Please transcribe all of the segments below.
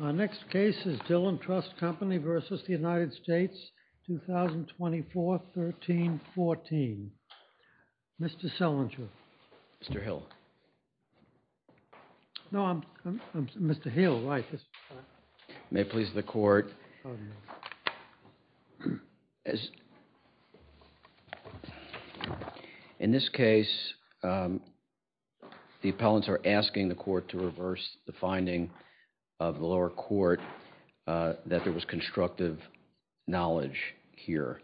2024-13-14. Mr. Selinger. Mr. Hill. No, I'm Mr. Hill, right. May it please the court. In this case, the appellants are asking the court to reverse the finding of the lower court that there was constructive knowledge here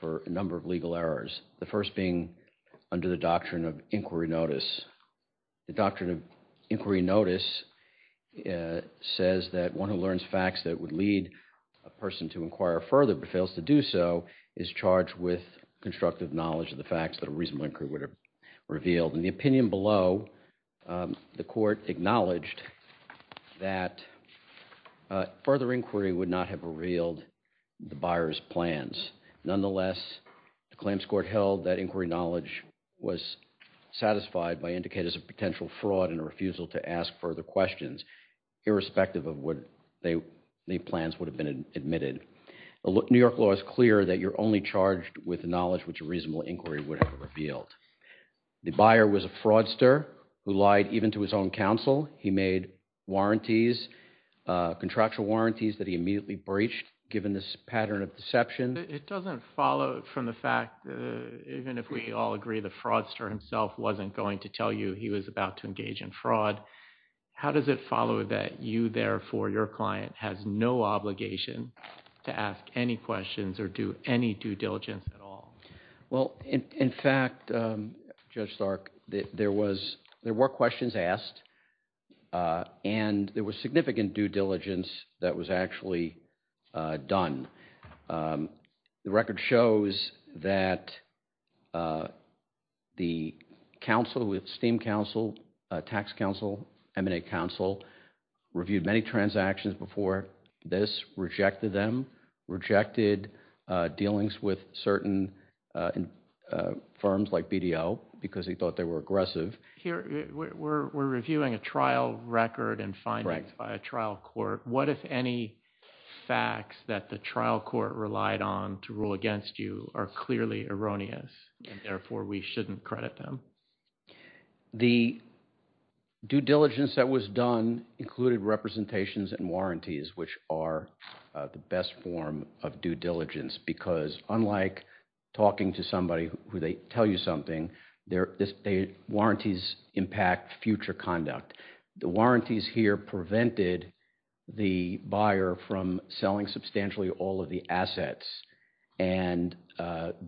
for a number of legal errors. The first being under the doctrine of inquiry notice. The doctrine of inquiry notice says that one learns facts that would lead a person to inquire further but fails to do so is charged with constructive knowledge of the facts that a reasonable inquiry would have revealed. In the opinion below, the court acknowledged that further inquiry would not have revealed the buyer's plans. Nonetheless, the claims court held that inquiry knowledge was satisfied by indicators of potential fraud and a refusal to ask further questions, irrespective of whether the plans would have been admitted. New York law is clear that you're only charged with knowledge which a reasonable inquiry would have revealed. The buyer was a fraudster who lied even to his own counsel. He made warranties, contractual warranties that he immediately breached given this pattern of deception. It doesn't follow from the fact that even if we all agree the fraudster himself wasn't going to tell you he was about to engage in fraud, how does it follow that you therefore, your client has no obligation to ask any questions or do any due diligence at all? Well, in fact, Judge Stark, there were questions asked and there was significant due diligence that was actually done. The record shows that the counsel, the esteemed counsel, tax counsel, M&A counsel, reviewed many transactions before this, rejected them, rejected dealings with certain firms like BDO because he thought they were aggressive. We're reviewing a trial record and findings by a trial court. What if any facts that the trial court relied on to rule against you are clearly erroneous and therefore we shouldn't credit them? The due diligence that was done included representations and warranties which are the best form of due diligence because unlike talking to somebody who they tell you something, warranties impact future conduct. The warranties here prevented the buyer from selling substantially all of the assets and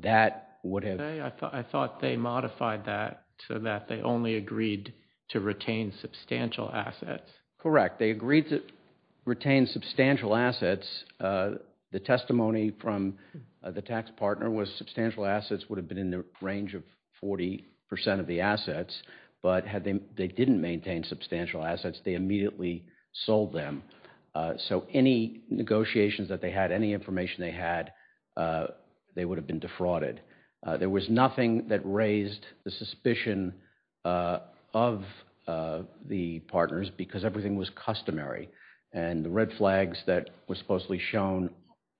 that would have... I thought they modified that so that they only agreed to retain substantial assets. Correct. They agreed to retain substantial assets. The testimony from the tax partner was substantial assets would have been in the range of 40% of the assets, but they didn't maintain substantial assets, they immediately sold them. So any negotiations that they had, any information they had, they would have been defrauded. There was nothing that raised the suspicion of the partners because everything was customary and the red flags that were supposedly shown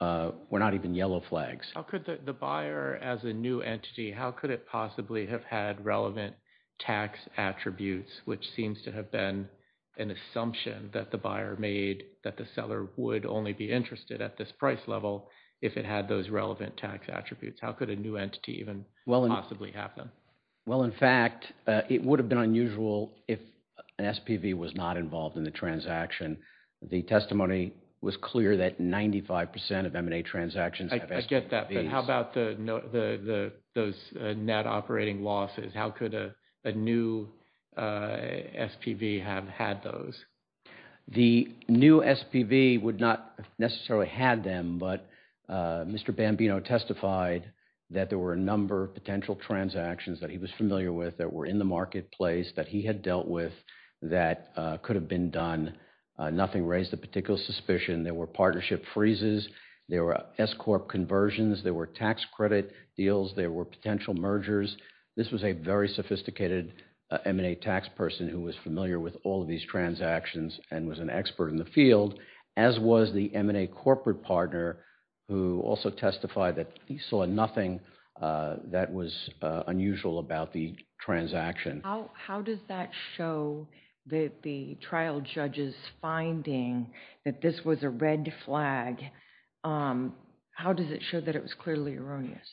were not even yellow flags. The buyer as a new entity, how could it possibly have had relevant tax attributes which seems to have been an assumption that the buyer made that the seller would only be interested at this price level if it had those relevant tax attributes? How could a new entity even possibly have them? Well, in fact, it would have been unusual if an SPV was not involved in the transaction. The testimony was clear that 95% of M&A transactions have SPVs. I get that, but how about those net operating losses? How could a new SPV have had those? The new SPV would not necessarily have them, but Mr. Bambino testified that there were a number of potential transactions that he was familiar with that were in the marketplace that he had dealt with that could have been done. Nothing raised a particular suspicion. There were partnership freezes, there were S-corp conversions, there were tax credit deals, there were potential mergers. This was a very sophisticated M&A tax person who was familiar with all of these transactions and was an expert in the field, as was the M&A corporate partner who also testified that he saw nothing that was unusual about the transaction. How does that show that the trial judge's finding that this was a red flag, how does it show that it was clearly erroneous?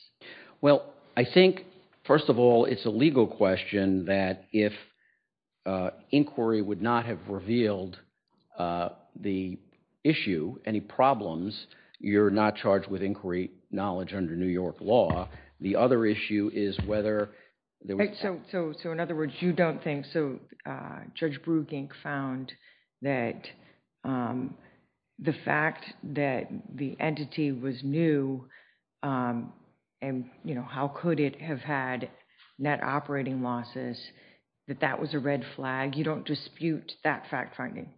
Well, I think, first of all, it's a legal question that if inquiry would not have revealed the issue, any problems, you're not charged with inquiry knowledge under New York law. The other issue is whether... So, in other words, you don't think, so Judge Brugink found that the fact that the entity was new and how could it have had net operating losses, that that was a red flag. You don't dispute that fact finding?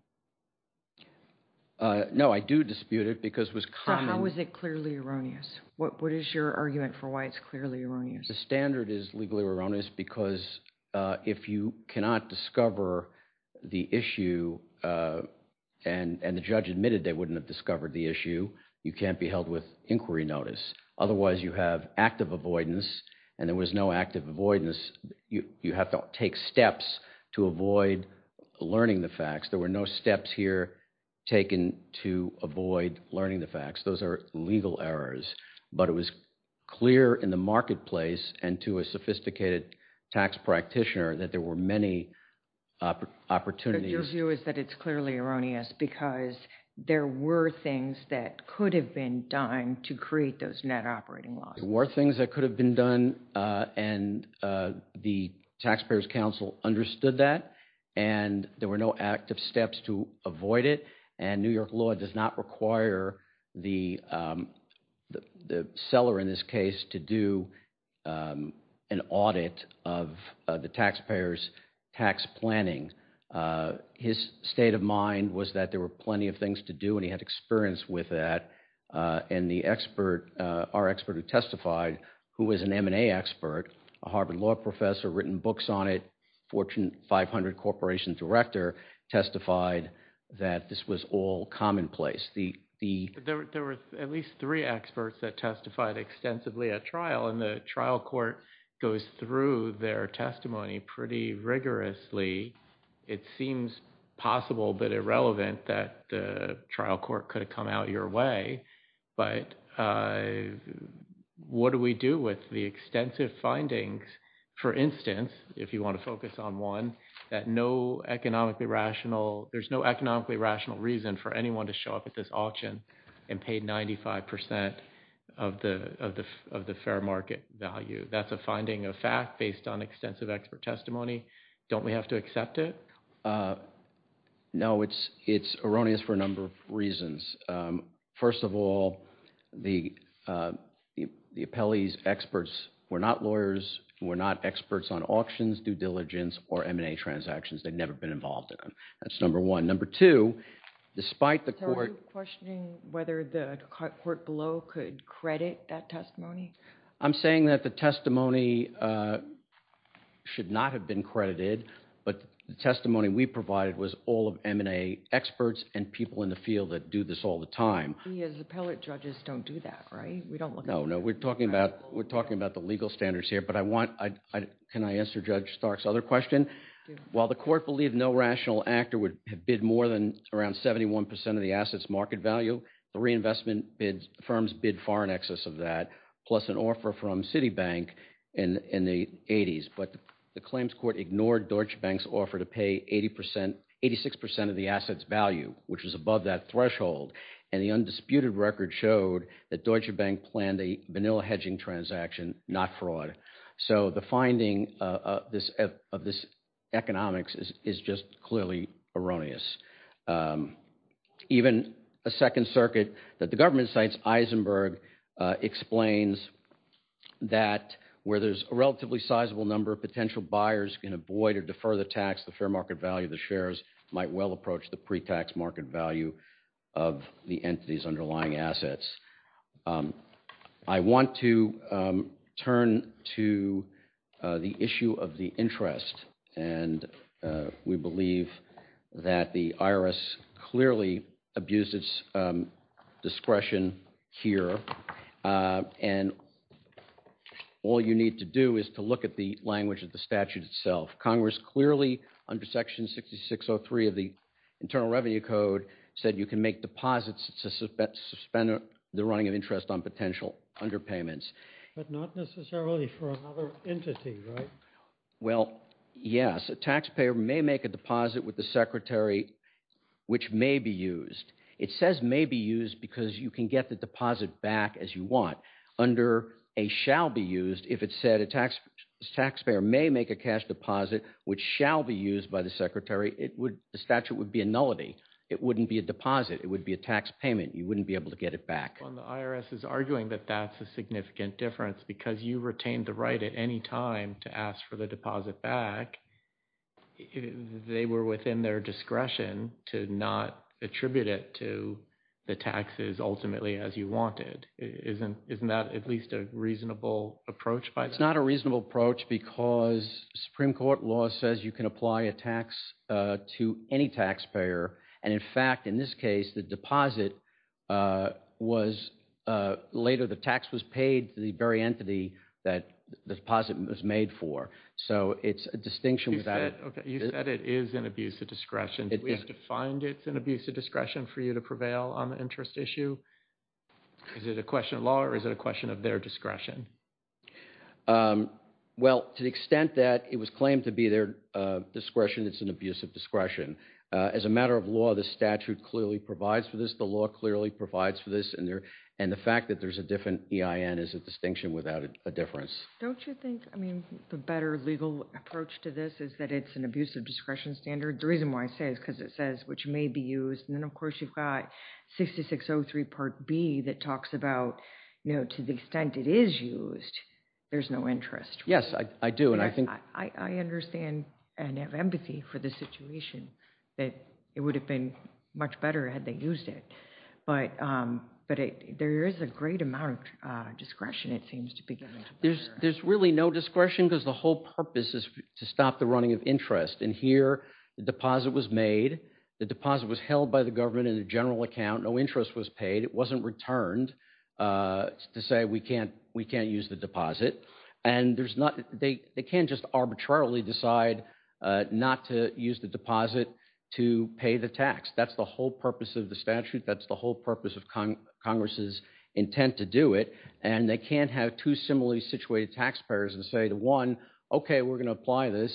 No, I do dispute it because it was... So, how is it clearly erroneous? What is your argument for why it's clearly erroneous? The standard is legally erroneous because if you cannot discover the issue and the judge admitted they wouldn't have discovered the issue, you can't be held with inquiry notice. Otherwise, you have active avoidance and there was no active avoidance. You have to take steps to avoid learning the facts. There were no steps here taken to avoid learning the facts. Those are legal errors, but it was clear in the marketplace and to a sophisticated tax practitioner that there were many opportunities... Your view is that it's clearly erroneous because there were things that could have been done to create those net operating losses. There were things that could have been done and the Taxpayers Council understood that and there were no active steps to avoid it and New York law does not require the seller in this case to do an audit of the taxpayer's tax planning. His state of mind was that there were plenty of things to do and he had experience with that and our expert who testified who was an M&A expert, a Harvard law professor, written books on it, Fortune 500 Corporation Director testified that this was all commonplace. There were at least three experts that testified extensively at trial and the trial court goes through their testimony pretty rigorously. It seems possible but irrelevant that the trial court could have come out your way, but what do we do with the extensive findings? For instance, if you want to focus on one, there's no economically rational reason for anyone to show up at this auction and pay 95% of the fair market value. That's a finding of fact based on extensive expert testimony. Don't we have to accept it? No, it's erroneous for a number of reasons. First of all, the appellees' experts were not lawyers, were not experts on auctions, due diligence or M&A transactions. They've never been involved in them. That's number one. Number two, despite the court So are you questioning whether the court below could credit that testimony? I'm saying that the testimony should not have been credited, but the testimony we provided was all of M&A experts and people in the field that do this all the time. The appellate judges don't do that, right? No, we're talking about the legal standards here. Can I answer Judge Stark's other question? While the court believed no rational actor would bid more than around 71% of the asset's market value, the reinvestment firms bid far excess of that, plus an offer from Citibank in the 80s. But the claims court ignored Deutsche Bank's offer to pay 86% of the asset's value, which was above that threshold. And the undisputed record showed that Deutsche Bank planned a vanilla hedging transaction, not fraud. So the finding of this economics is just clearly erroneous. Even a second circuit that the government cites, Eisenberg, explains that where there's a relatively sizable number of potential buyers can avoid or defer the tax, the fair market value of the shares might well approach the pre-tax market value of the entity's underlying assets. I want to turn to the issue of the interest. And we believe that the IRS clearly abused its discretion here. And all you need to do is to look at the language of the statute itself. Congress clearly, under Section 6603 of the Internal Revenue Code, said you can make deposits to suspend the running of interest on potential underpayments. But not necessarily for another entity, right? Well, yes. A taxpayer may make a deposit with the secretary which may be used. It says may be used because you can get the deposit back as you want. Under a shall be used, if it said a taxpayer may make a cash deposit which shall be used by the secretary, the statute would be a nullity. It wouldn't be a deposit. It would be a tax payment. You wouldn't be able to get it back. The IRS is arguing that that's a significant difference because you retained the right at any time to ask for the deposit back. They were within their discretion to not attribute it to the taxes ultimately as you wanted. Isn't that at least a reasonable approach by them? That's not a reasonable approach because Supreme Court law says you can apply a tax to any taxpayer. And in fact, in this case, the deposit was later, the tax was paid to the very entity that the deposit was made for. So it's a distinction without it. You said it is an abuse of discretion. Do we have to find it's an abuse of discretion for you to prevail on the interest issue? Is it a question of law or is it a question of their discretion? Well, to the extent that it was claimed to be their discretion, it's an abuse of discretion. As a matter of law, the statute clearly provides for this. The law clearly provides for this. And the fact that there's a different EIN is a distinction without a difference. Don't you think, I mean, the better legal approach to this is that it's an abuse of discretion standard? The reason why I say it is because it says which may be used. And there's no interest. Yes, I do. And I think I understand and have empathy for the situation that it would have been much better had they used it. But there is a great amount of discretion, it seems to be. There's there's really no discretion because the whole purpose is to stop the running of interest. And here the deposit was made. The deposit was held by the government in a general account. No interest was paid. It wasn't returned to say we can't we can't use the deposit. And there's not they can't just arbitrarily decide not to use the deposit to pay the tax. That's the whole purpose of the statute. That's the whole purpose of Congress's intent to do it. And they can't have two similarly situated taxpayers and say to one, OK, we're going to apply this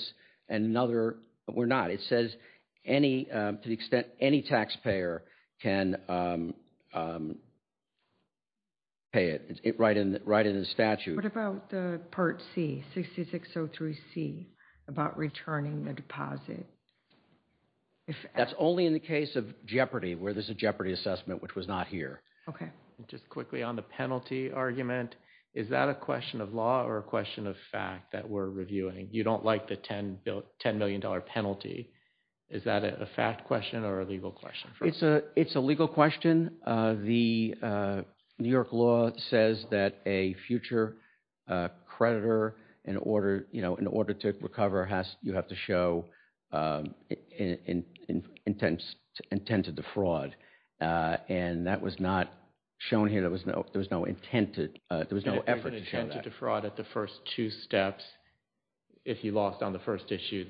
and another we're not. It says any to the extent any taxpayer can pay it right in right in the statute. What about the Part C, 6603C about returning the deposit? That's only in the case of Jeopardy where there's a Jeopardy assessment, which was not here. OK, just quickly on the penalty argument. Is that a question of law or a question of fact that we're reviewing? You don't like the $10 million penalty. Is that a fact question or a legal question? It's a legal question. The New York law says that a future creditor in order, you know, in order to recover has you have to show intent to defraud. And that was not shown here. There was no intent. There was no effort to show that. There was no intent to defraud at the first two steps. If you lost on the first issue,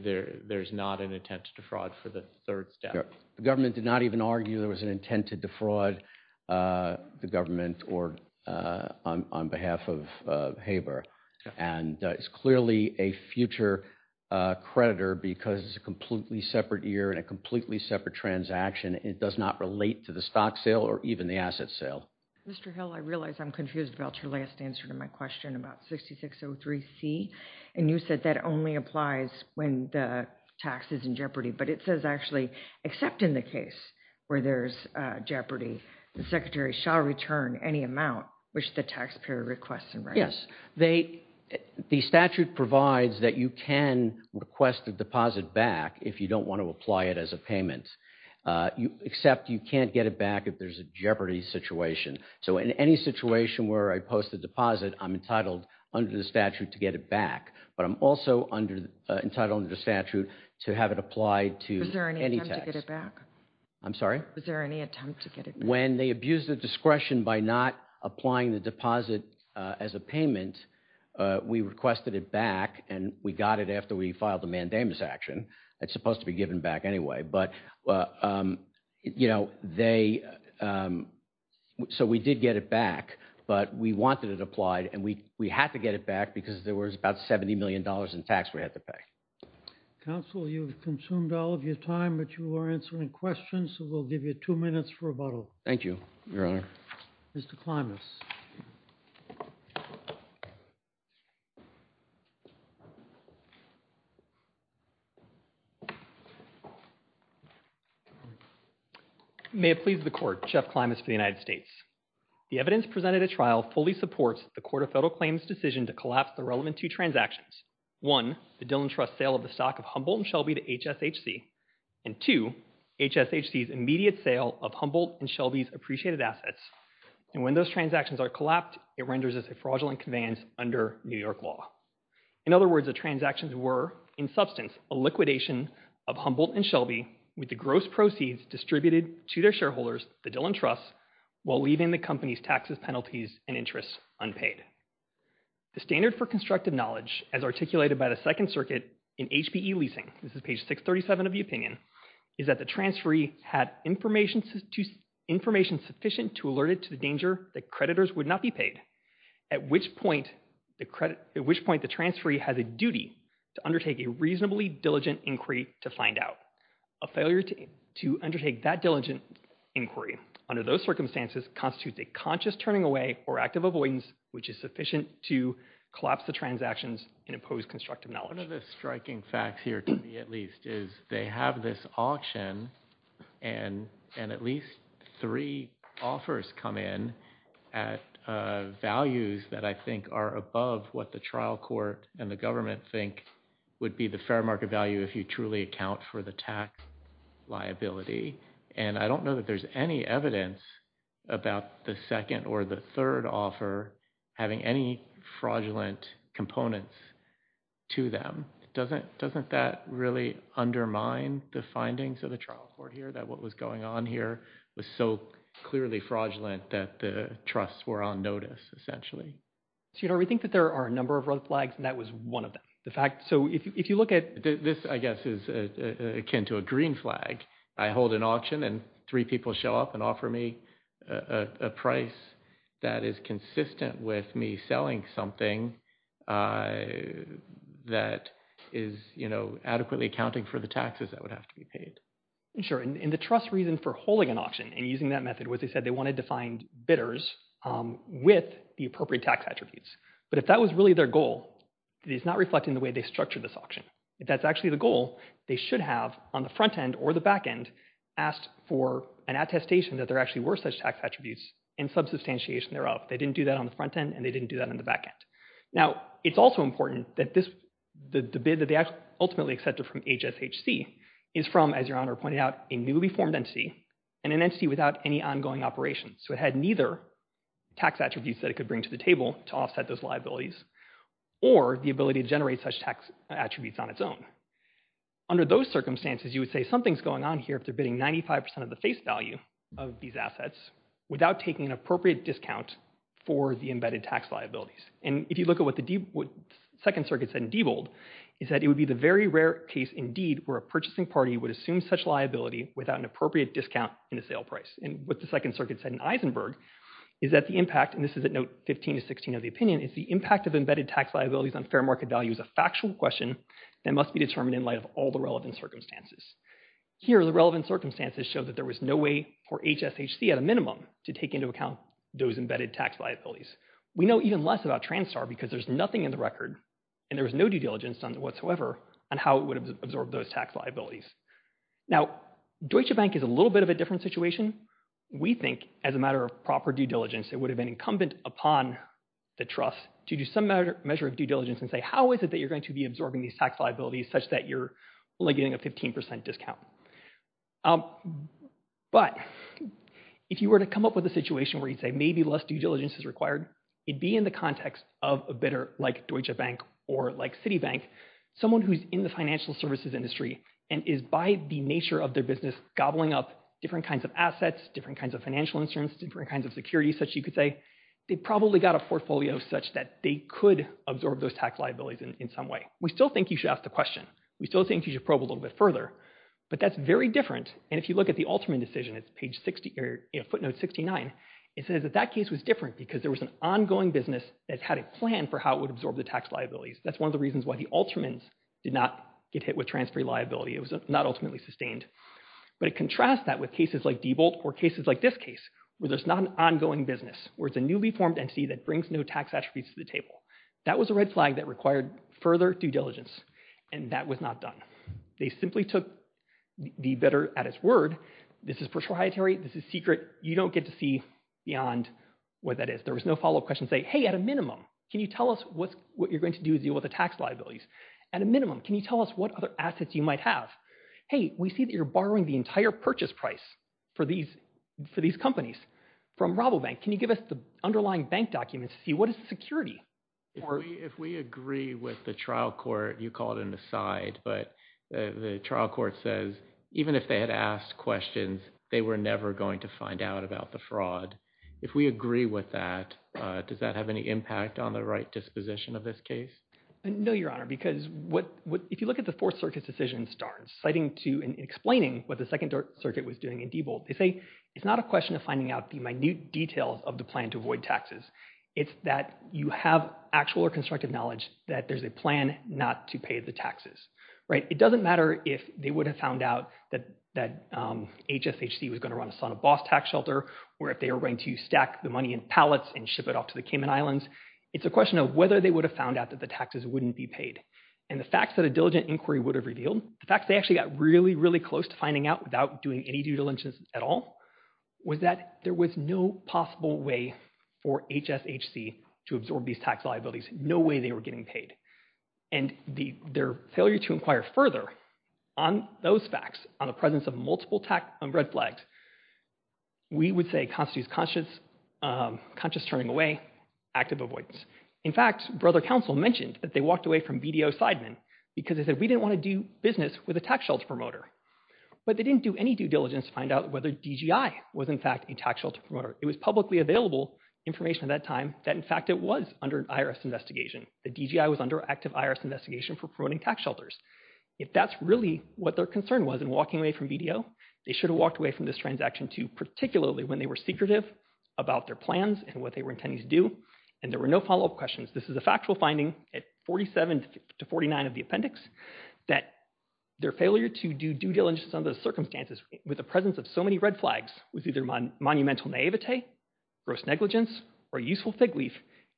there's not an intent to defraud for the third step. The government did not even argue there was an intent to defraud the government or on behalf of HABER. And it's clearly a future creditor because it's a completely separate year and a completely separate transaction. It does not relate to the stock sale or even the asset sale. Mr. Hill, I realize I'm confused about your last answer to my question about 6603C. And you said that only applies when the tax is in jeopardy. But it says actually, except in the case where there's jeopardy, the secretary shall return any amount which the taxpayer requests and writes. Yes, they, the statute provides that you can request a deposit back if you don't want to apply it as a payment, except you can't get it back if there's a jeopardy situation. So in any situation where I post a deposit, I'm entitled under the statute to get it back. But I'm also entitled under the statute to have it applied to any tax. I'm sorry? Was there any attempt to get it back? When they abused the discretion by not applying the deposit as a payment, we requested it back and we got it after we filed the mandamus action. It's supposed to be given back anyway. But you know, they, so we did get it back, but we wanted it applied and we had to get it back because there was about $70 million in tax we had to pay. Counsel, you've consumed all of your time, but you are answering questions, so we'll give you two minutes for rebuttal. Thank you, Your Honor. Mr. Klimas. May it please the Court, Jeff Klimas for the United States. The evidence presented at trial fully supports the Court of Federal Claims' decision to collapse the relevant two transactions. One, the Dillon Trust sale of the stock of Humboldt & Shelby to HSHC. And two, HSHC's immediate sale of Humboldt & Shelby's appreciated assets. And when those transactions are collapsed, it renders this a fraudulent conveyance under New York law. In other words, the transactions were, in substance, a liquidation of Humboldt & Shelby with the gross proceeds distributed to their shareholders, the Dillon Trust, while leaving the company's taxes, penalties, and interests unpaid. The standard for constructive knowledge, as articulated by the Second Circuit in HPE leasing, this is page 637 of the opinion, is that the transferee had information sufficient to alert it to the danger that creditors would not be paid, at which point the transferee has a duty to undertake a reasonably diligent inquiry to find out. A failure to undertake that diligent inquiry under those circumstances constitutes a conscious turning away or act of avoidance which is sufficient to collapse the transactions and impose constructive knowledge. One of the striking facts here, to me at least, is they have this auction and at least three offers come in at values that I think are above what the trial court and the government think would be the fair market value if you truly account for the tax liability. And I don't know that there's any evidence about the second or the third offer having any fraudulent components to them. Doesn't that really undermine the findings of the trial court here, that what was going on here was so clearly fraudulent that the trusts were on notice, essentially? You know, we think that there are a number of red flags and that was one of them. The fact, so if you look at... This I guess is akin to a green flag. I hold an auction and three people show up and offer me a price that is consistent with me selling something that is, you know, adequately accounting for the taxes that would have to be paid. Sure. And the trust reason for holding an auction and using that method was they said they wanted to find bidders with the appropriate tax attributes, but if that was really their goal, it's not reflecting the way they structured this auction. If that's actually the goal, they should have, on the front end or the back end, asked for an attestation that there actually were such tax attributes and subsubstantiation thereof. They didn't do that on the front end and they didn't do that on the back end. Now, it's also important that the bid that they ultimately accepted from HSHC is from, as Your Honor pointed out, a newly formed entity and an entity without any ongoing operations. So it had neither tax attributes that it could bring to the table to offset those liabilities or the ability to generate such tax attributes on its own. Under those circumstances, you would say something's going on here if they're bidding 95 percent of the face value of these assets without taking an appropriate discount for the embedded tax liabilities. And if you look at what the Second Circuit said in Diebold, it said it would be the very rare case, indeed, where a purchasing party would assume such liability without an appropriate discount in the sale price. And what the Second Circuit said in Eisenberg is that the impact, and this is at note 15 to 16 of the opinion, is the impact of embedded tax liabilities on fair market value is a factual question that must be determined in light of all the relevant circumstances. Here the relevant circumstances show that there was no way for HSHC, at a minimum, to take into account those embedded tax liabilities. We know even less about TranStar because there's nothing in the record and there was no due diligence done whatsoever on how it would absorb those tax liabilities. Now Deutsche Bank is a little bit of a different situation. We think as a matter of proper due diligence it would have been incumbent upon the trust to do some measure of due diligence and say how is it that you're going to be absorbing these tax liabilities such that you're getting a 15 percent discount. But if you were to come up with a situation where you'd say maybe less due diligence is required, it'd be in the context of a bidder like Deutsche Bank or like Citibank, someone who's in the financial services industry and is by the nature of their business gobbling up different kinds of assets, different kinds of financial instruments, different kinds of security such you could say, they probably got a portfolio such that they could absorb those tax liabilities in some way. We still think you should ask the question. We still think you should probe a little bit further. But that's very different. And if you look at the Alterman decision, it's footnote 69, it says that that case was different because there was an ongoing business that had a plan for how it would absorb the tax liabilities. That's one of the reasons why the Altermans did not get hit with transfer liability. It was not ultimately sustained. But it contrasts that with cases like Diebold or cases like this case where there's not an ongoing business, where it's a newly formed entity that brings new tax attributes to the That was a red flag that required further due diligence. And that was not done. They simply took the bidder at his word, this is proprietary, this is secret, you don't get to see beyond what that is. There was no follow-up question saying, hey, at a minimum, can you tell us what you're going to do to deal with the tax liabilities? At a minimum, can you tell us what other assets you might have? Hey, we see that you're borrowing the entire purchase price for these companies from Rabobank. Can you give us the underlying bank documents to see what is the security? If we agree with the trial court, you call it an aside, but the trial court says, even if they had asked questions, they were never going to find out about the fraud. If we agree with that, does that have any impact on the right disposition of this case? No, Your Honor, because if you look at the Fourth Circuit's decision, citing and explaining what the Second Circuit was doing in Diebold, they say it's not a question of finding out the minute details of the plan to avoid taxes. It's that you have actual or constructive knowledge that there's a plan not to pay the taxes. It doesn't matter if they would have found out that HSHC was going to run us on a boss tax shelter, or if they were going to stack the money in pallets and ship it off to the Cayman Islands. It's a question of whether they would have found out that the taxes wouldn't be paid. And the facts that a diligent inquiry would have revealed, the facts they actually got really, really close to finding out without doing any due diligence at all, was that there was no possible way for HSHC to absorb these tax liabilities. No way they were getting paid. And their failure to inquire further on those facts, on the presence of multiple red flags, we would say constitutes conscious turning away, active avoidance. In fact, Brother Counsel mentioned that they walked away from BDO Seidman because they said, we didn't want to do business with a tax shelter promoter. But they didn't do any due diligence to find out whether DGI was, in fact, a tax shelter promoter. It was publicly available information at that time that, in fact, it was under an IRS investigation, that DGI was under an active IRS investigation for promoting tax shelters. If that's really what their concern was in walking away from BDO, they should have walked away from this transaction, too, particularly when they were secretive about their plans and what they were intending to do, and there were no follow-up questions. This is a factual finding at 47 to 49 of the appendix, that their failure to do due diligence under those circumstances, with the presence of so many red flags, was either monumental naivete, gross negligence, or useful fig leaf.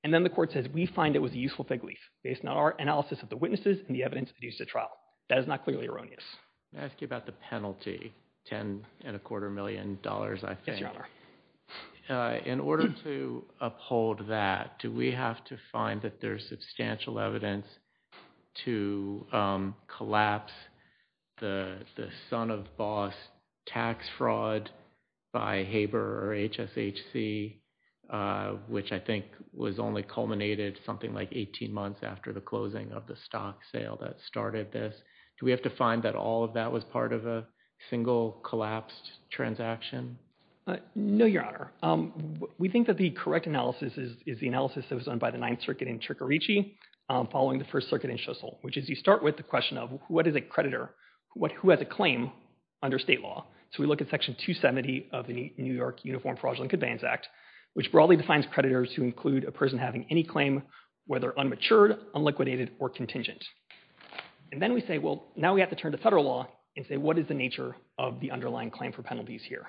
And then the court says, we find it was a useful fig leaf, based on our analysis of the witnesses and the evidence produced at trial. That is not clearly erroneous. Let me ask you about the penalty, $10.25 million, I think. In order to uphold that, do we have to find that there's substantial evidence to collapse the son-of-boss tax fraud by HABER or HSHC, which I think was only culminated something like 18 months after the closing of the stock sale that started this? Do we have to find that all of that was part of a single collapsed transaction? No, Your Honor. We think that the correct analysis is the analysis that was done by the Ninth Circuit in Tricorici, following the First Circuit in Shissel, which is you start with the question of what is a creditor, who has a claim under state law. So we look at Section 270 of the New York Uniform Fraudulent Companions Act, which broadly defines creditors who include a person having any claim, whether unmatured, unliquidated, or contingent. And then we say, well, now we have to turn to federal law and say, what is the nature of the underlying claim for penalties here?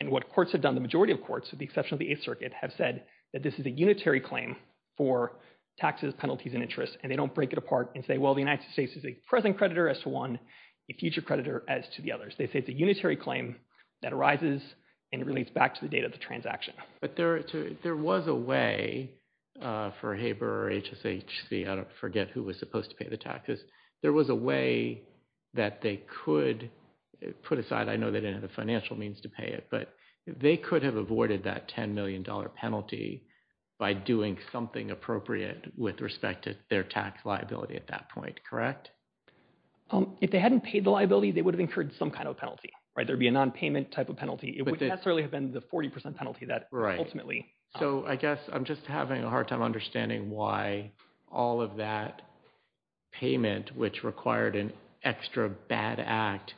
And what courts have done, the majority of courts, with the exception of the Eighth Circuit, have said that this is a unitary claim for taxes, penalties, and interest, and they don't break it apart and say, well, the United States is a present creditor as to one, a future creditor as to the others. They say it's a unitary claim that arises and relates back to the date of the transaction. But there was a way for HABER or HSHC, I forget who was supposed to pay the taxes, there was a way that they could put aside, I know they didn't have the financial means to pay it, but they could have avoided that $10 million penalty by doing something appropriate with respect to their tax liability at that point, correct? If they hadn't paid the liability, they would have incurred some kind of penalty, right? There'd be a nonpayment type of penalty. It would necessarily have been the 40% penalty that ultimately... So I guess I'm just having a hard time understanding why all of that payment, which required an extra bad act,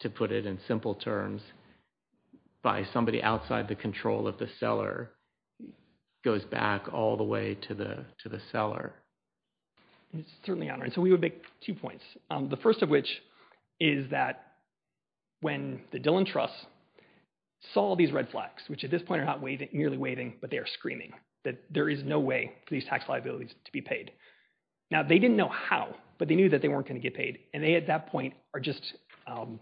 to put it in simple terms, by somebody outside the control of the seller, goes back all the way to the seller. It's certainly not, and so we would make two points. The first of which is that when the Dillon Trust saw these red flags, which at this point are not merely waving, but they are screaming, that there is no way for these tax liabilities to be paid. Now, they didn't know how, but they knew that they weren't going to get paid. And they, at that point, are just, they're going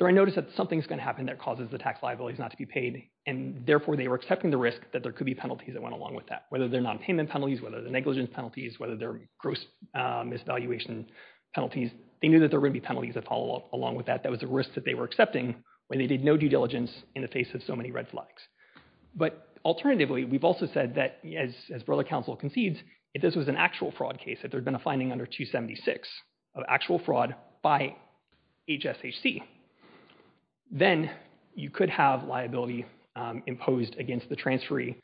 to notice that something's going to happen that causes the tax liabilities not to be paid, and therefore they were excited about accepting the risk that there could be penalties that went along with that, whether they're nonpayment penalties, whether they're negligence penalties, whether they're gross misvaluation penalties, they knew that there were going to be penalties that follow along with that. That was a risk that they were accepting when they did no due diligence in the face of so many red flags. But alternatively, we've also said that, as Borla Council concedes, if this was an actual fraud case, if there'd been a finding under 276 of actual fraud by HSHC, then you could have liability imposed against the transferee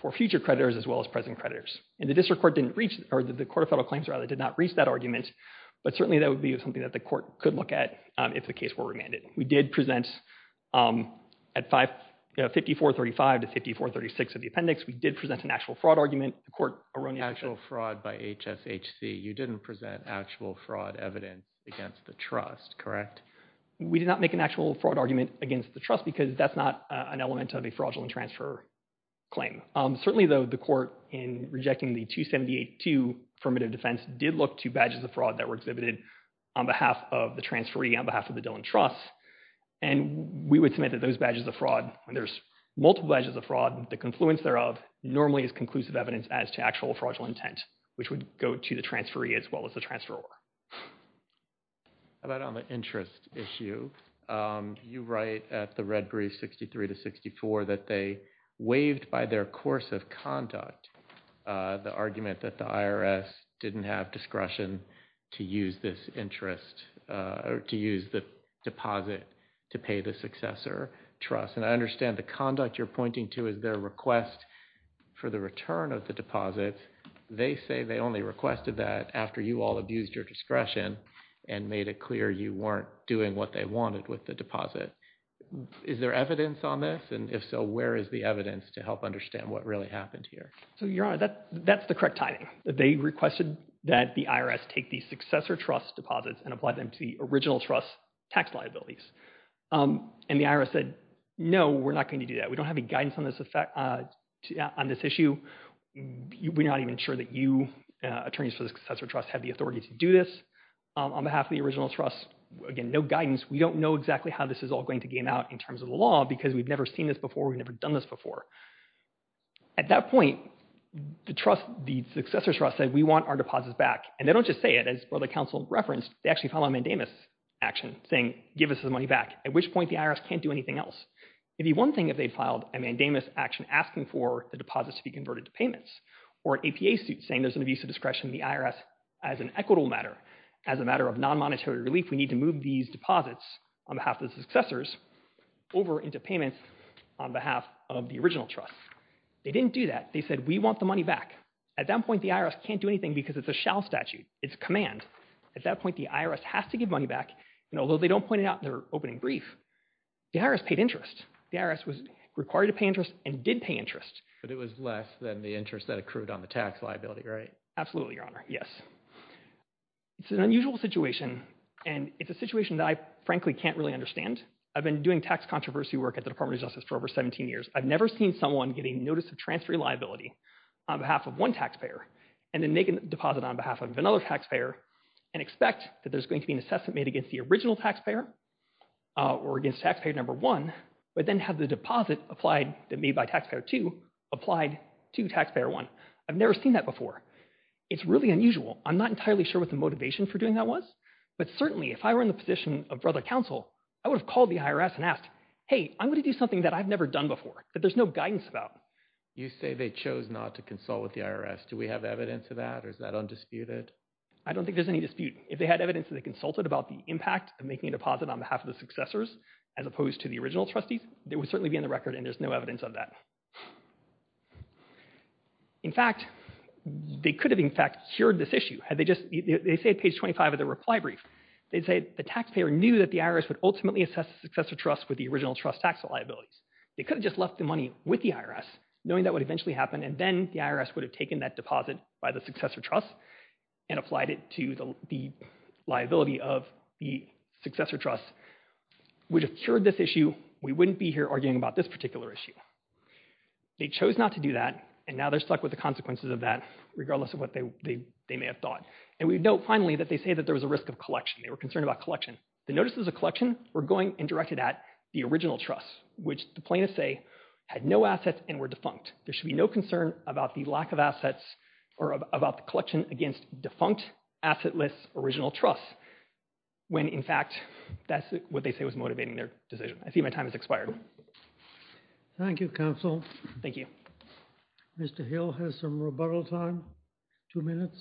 for future creditors as well as present creditors. And the District Court didn't reach, or the Court of Federal Claims, rather, did not reach that argument, but certainly that would be something that the Court could look at if the case were remanded. We did present, at 5435 to 5436 of the appendix, we did present an actual fraud argument, the Court erroneously- Actual fraud by HSHC, you didn't present actual fraud evidence against the trust, correct? We did not make an actual fraud argument against the trust because that's not an element of a fraudulent transfer claim. Certainly though, the Court, in rejecting the 278-2 affirmative defense, did look to badges of fraud that were exhibited on behalf of the transferee, on behalf of the Dillon Trust, and we would submit that those badges of fraud, and there's multiple badges of fraud, the confluence thereof, normally is conclusive evidence as to actual fraudulent intent, which would go to the transferee as well as the transferor. How about on the interest issue? You write at the red brief, 63-64, that they waived by their course of conduct the argument that the IRS didn't have discretion to use this interest, or to use the deposit to pay the successor trust, and I understand the conduct you're pointing to is their request for the return of the deposit. They say they only requested that after you all abused your discretion and made it clear you weren't doing what they wanted with the deposit. Is there evidence on this, and if so, where is the evidence to help understand what really happened here? So, Your Honor, that's the correct timing. They requested that the IRS take the successor trust's deposits and apply them to the original trust's tax liabilities, and the IRS said, no, we're not going to do that, we don't have any guidance on this issue, we're not even sure that you, attorneys for the successor trust, have the authority to do this, on behalf of the original trust, again, no guidance, we don't know exactly how this is all going to game out in terms of the law, because we've never seen this before, we've never done this before. At that point, the successor trust said, we want our deposits back, and they don't just say it, as brother counsel referenced, they actually file a mandamus action saying, give us the money back, at which point the IRS can't do anything else. It'd be one thing if they filed a mandamus action asking for the deposits to be converted to payments, or an APA suit saying there's an abuse of discretion in the IRS as an equitable matter, as a matter of non-monetary relief, we need to move these deposits on behalf of the successors over into payments on behalf of the original trust. They didn't do that, they said, we want the money back. At that point, the IRS can't do anything because it's a shall statute, it's a command. At that point, the IRS has to give money back, and although they don't point it out in their opening brief, the IRS paid interest, the IRS was required to pay interest, and did pay interest. But it was less than the interest that accrued on the tax liability, right? Absolutely, your honor, yes. It's an unusual situation, and it's a situation that I frankly can't really understand. I've been doing tax controversy work at the Department of Justice for over 17 years. I've never seen someone get a notice of transfer liability on behalf of one taxpayer, and then make a deposit on behalf of another taxpayer, and expect that there's going to be an assessment made against the original taxpayer, or against taxpayer number one, but then have the deposit applied, made by taxpayer two, applied to taxpayer one. I've never seen that before. It's really unusual. I'm not entirely sure what the motivation for doing that was, but certainly, if I were in the position of brother counsel, I would have called the IRS and asked, hey, I'm going to do something that I've never done before, that there's no guidance about. You say they chose not to consult with the IRS. Do we have evidence of that, or is that undisputed? I don't think there's any dispute. If they had evidence that they consulted about the impact of making a deposit on behalf of the successors, as opposed to the original trustees, there would certainly be on the record, and there's no evidence of that. In fact, they could have, in fact, cured this issue. Had they just, they say at page 25 of the reply brief, they say the taxpayer knew that the IRS would ultimately assess the successor trust with the original trust tax liabilities. They could have just left the money with the IRS, knowing that would eventually happen, and then the IRS would have taken that deposit by the successor trust, and applied it to the liability of the successor trust, which would have cured this issue. We wouldn't be here arguing about this particular issue. They chose not to do that, and now they're stuck with the consequences of that, regardless of what they may have thought. And we note, finally, that they say that there was a risk of collection. They were concerned about collection. The notices of collection were going and directed at the original trust, which the plaintiffs say had no assets and were defunct. There should be no concern about the lack of assets, or about the collection against defunct assetless original trust, when, in fact, that's what they say was motivating their decision. I see my time has expired. Thank you, counsel. Thank you. Mr. Hill has some rebuttal time, two minutes.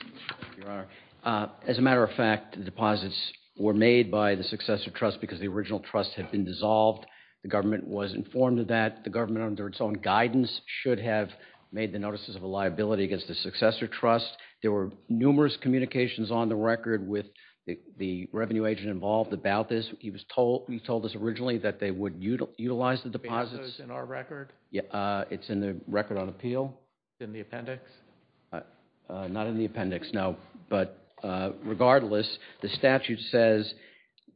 Thank you, Your Honor. As a matter of fact, the deposits were made by the successor trust because the original trust had been dissolved. The government was informed of that. The government, under its own guidance, should have made the notices of a liability against the successor trust. There were numerous communications on the record with the revenue agent involved about this. He was told, he told us originally that they would utilize the deposits. Is the basis in our record? It's in the record on appeal. Is it in the appendix? Not in the appendix, no. But regardless, the statute says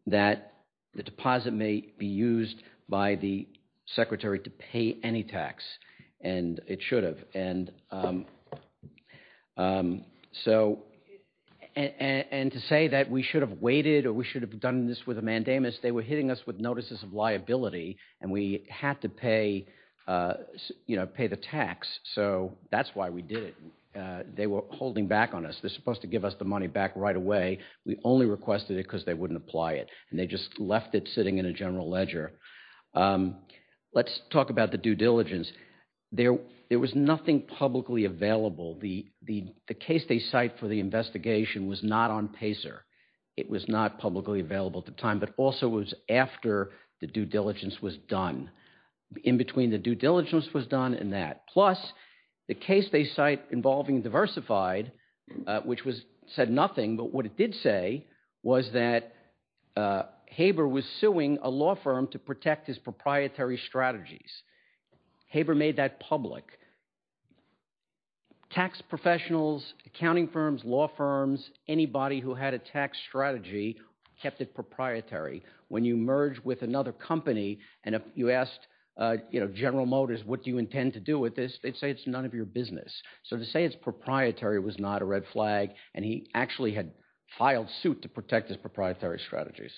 that the deposit may be used by the secretary to pay any tax, and it should have. And so, and to say that we should have waited or we should have done this with a mandamus, they were hitting us with notices of liability, and we had to pay, you know, pay the tax. So that's why we did it. They were holding back on us. They're supposed to give us the money back right away. We only requested it because they wouldn't apply it, and they just left it sitting in a general ledger. Let's talk about the due diligence. There was nothing publicly available. The case they cite for the investigation was not on PACER. It was not publicly available at the time, but also it was after the due diligence was done, in between the due diligence was done and that. Plus, the case they cite involving Diversified, which said nothing, but what it did say was that Haber was suing a law firm to protect his proprietary strategies. Haber made that public. Tax professionals, accounting firms, law firms, anybody who had a tax strategy kept it proprietary. When you merge with another company, and if you asked, you know, General Motors, what do you intend to do with this, they'd say it's none of your business. So to say it's proprietary was not a red flag, and he actually had filed suit to protect his proprietary strategies.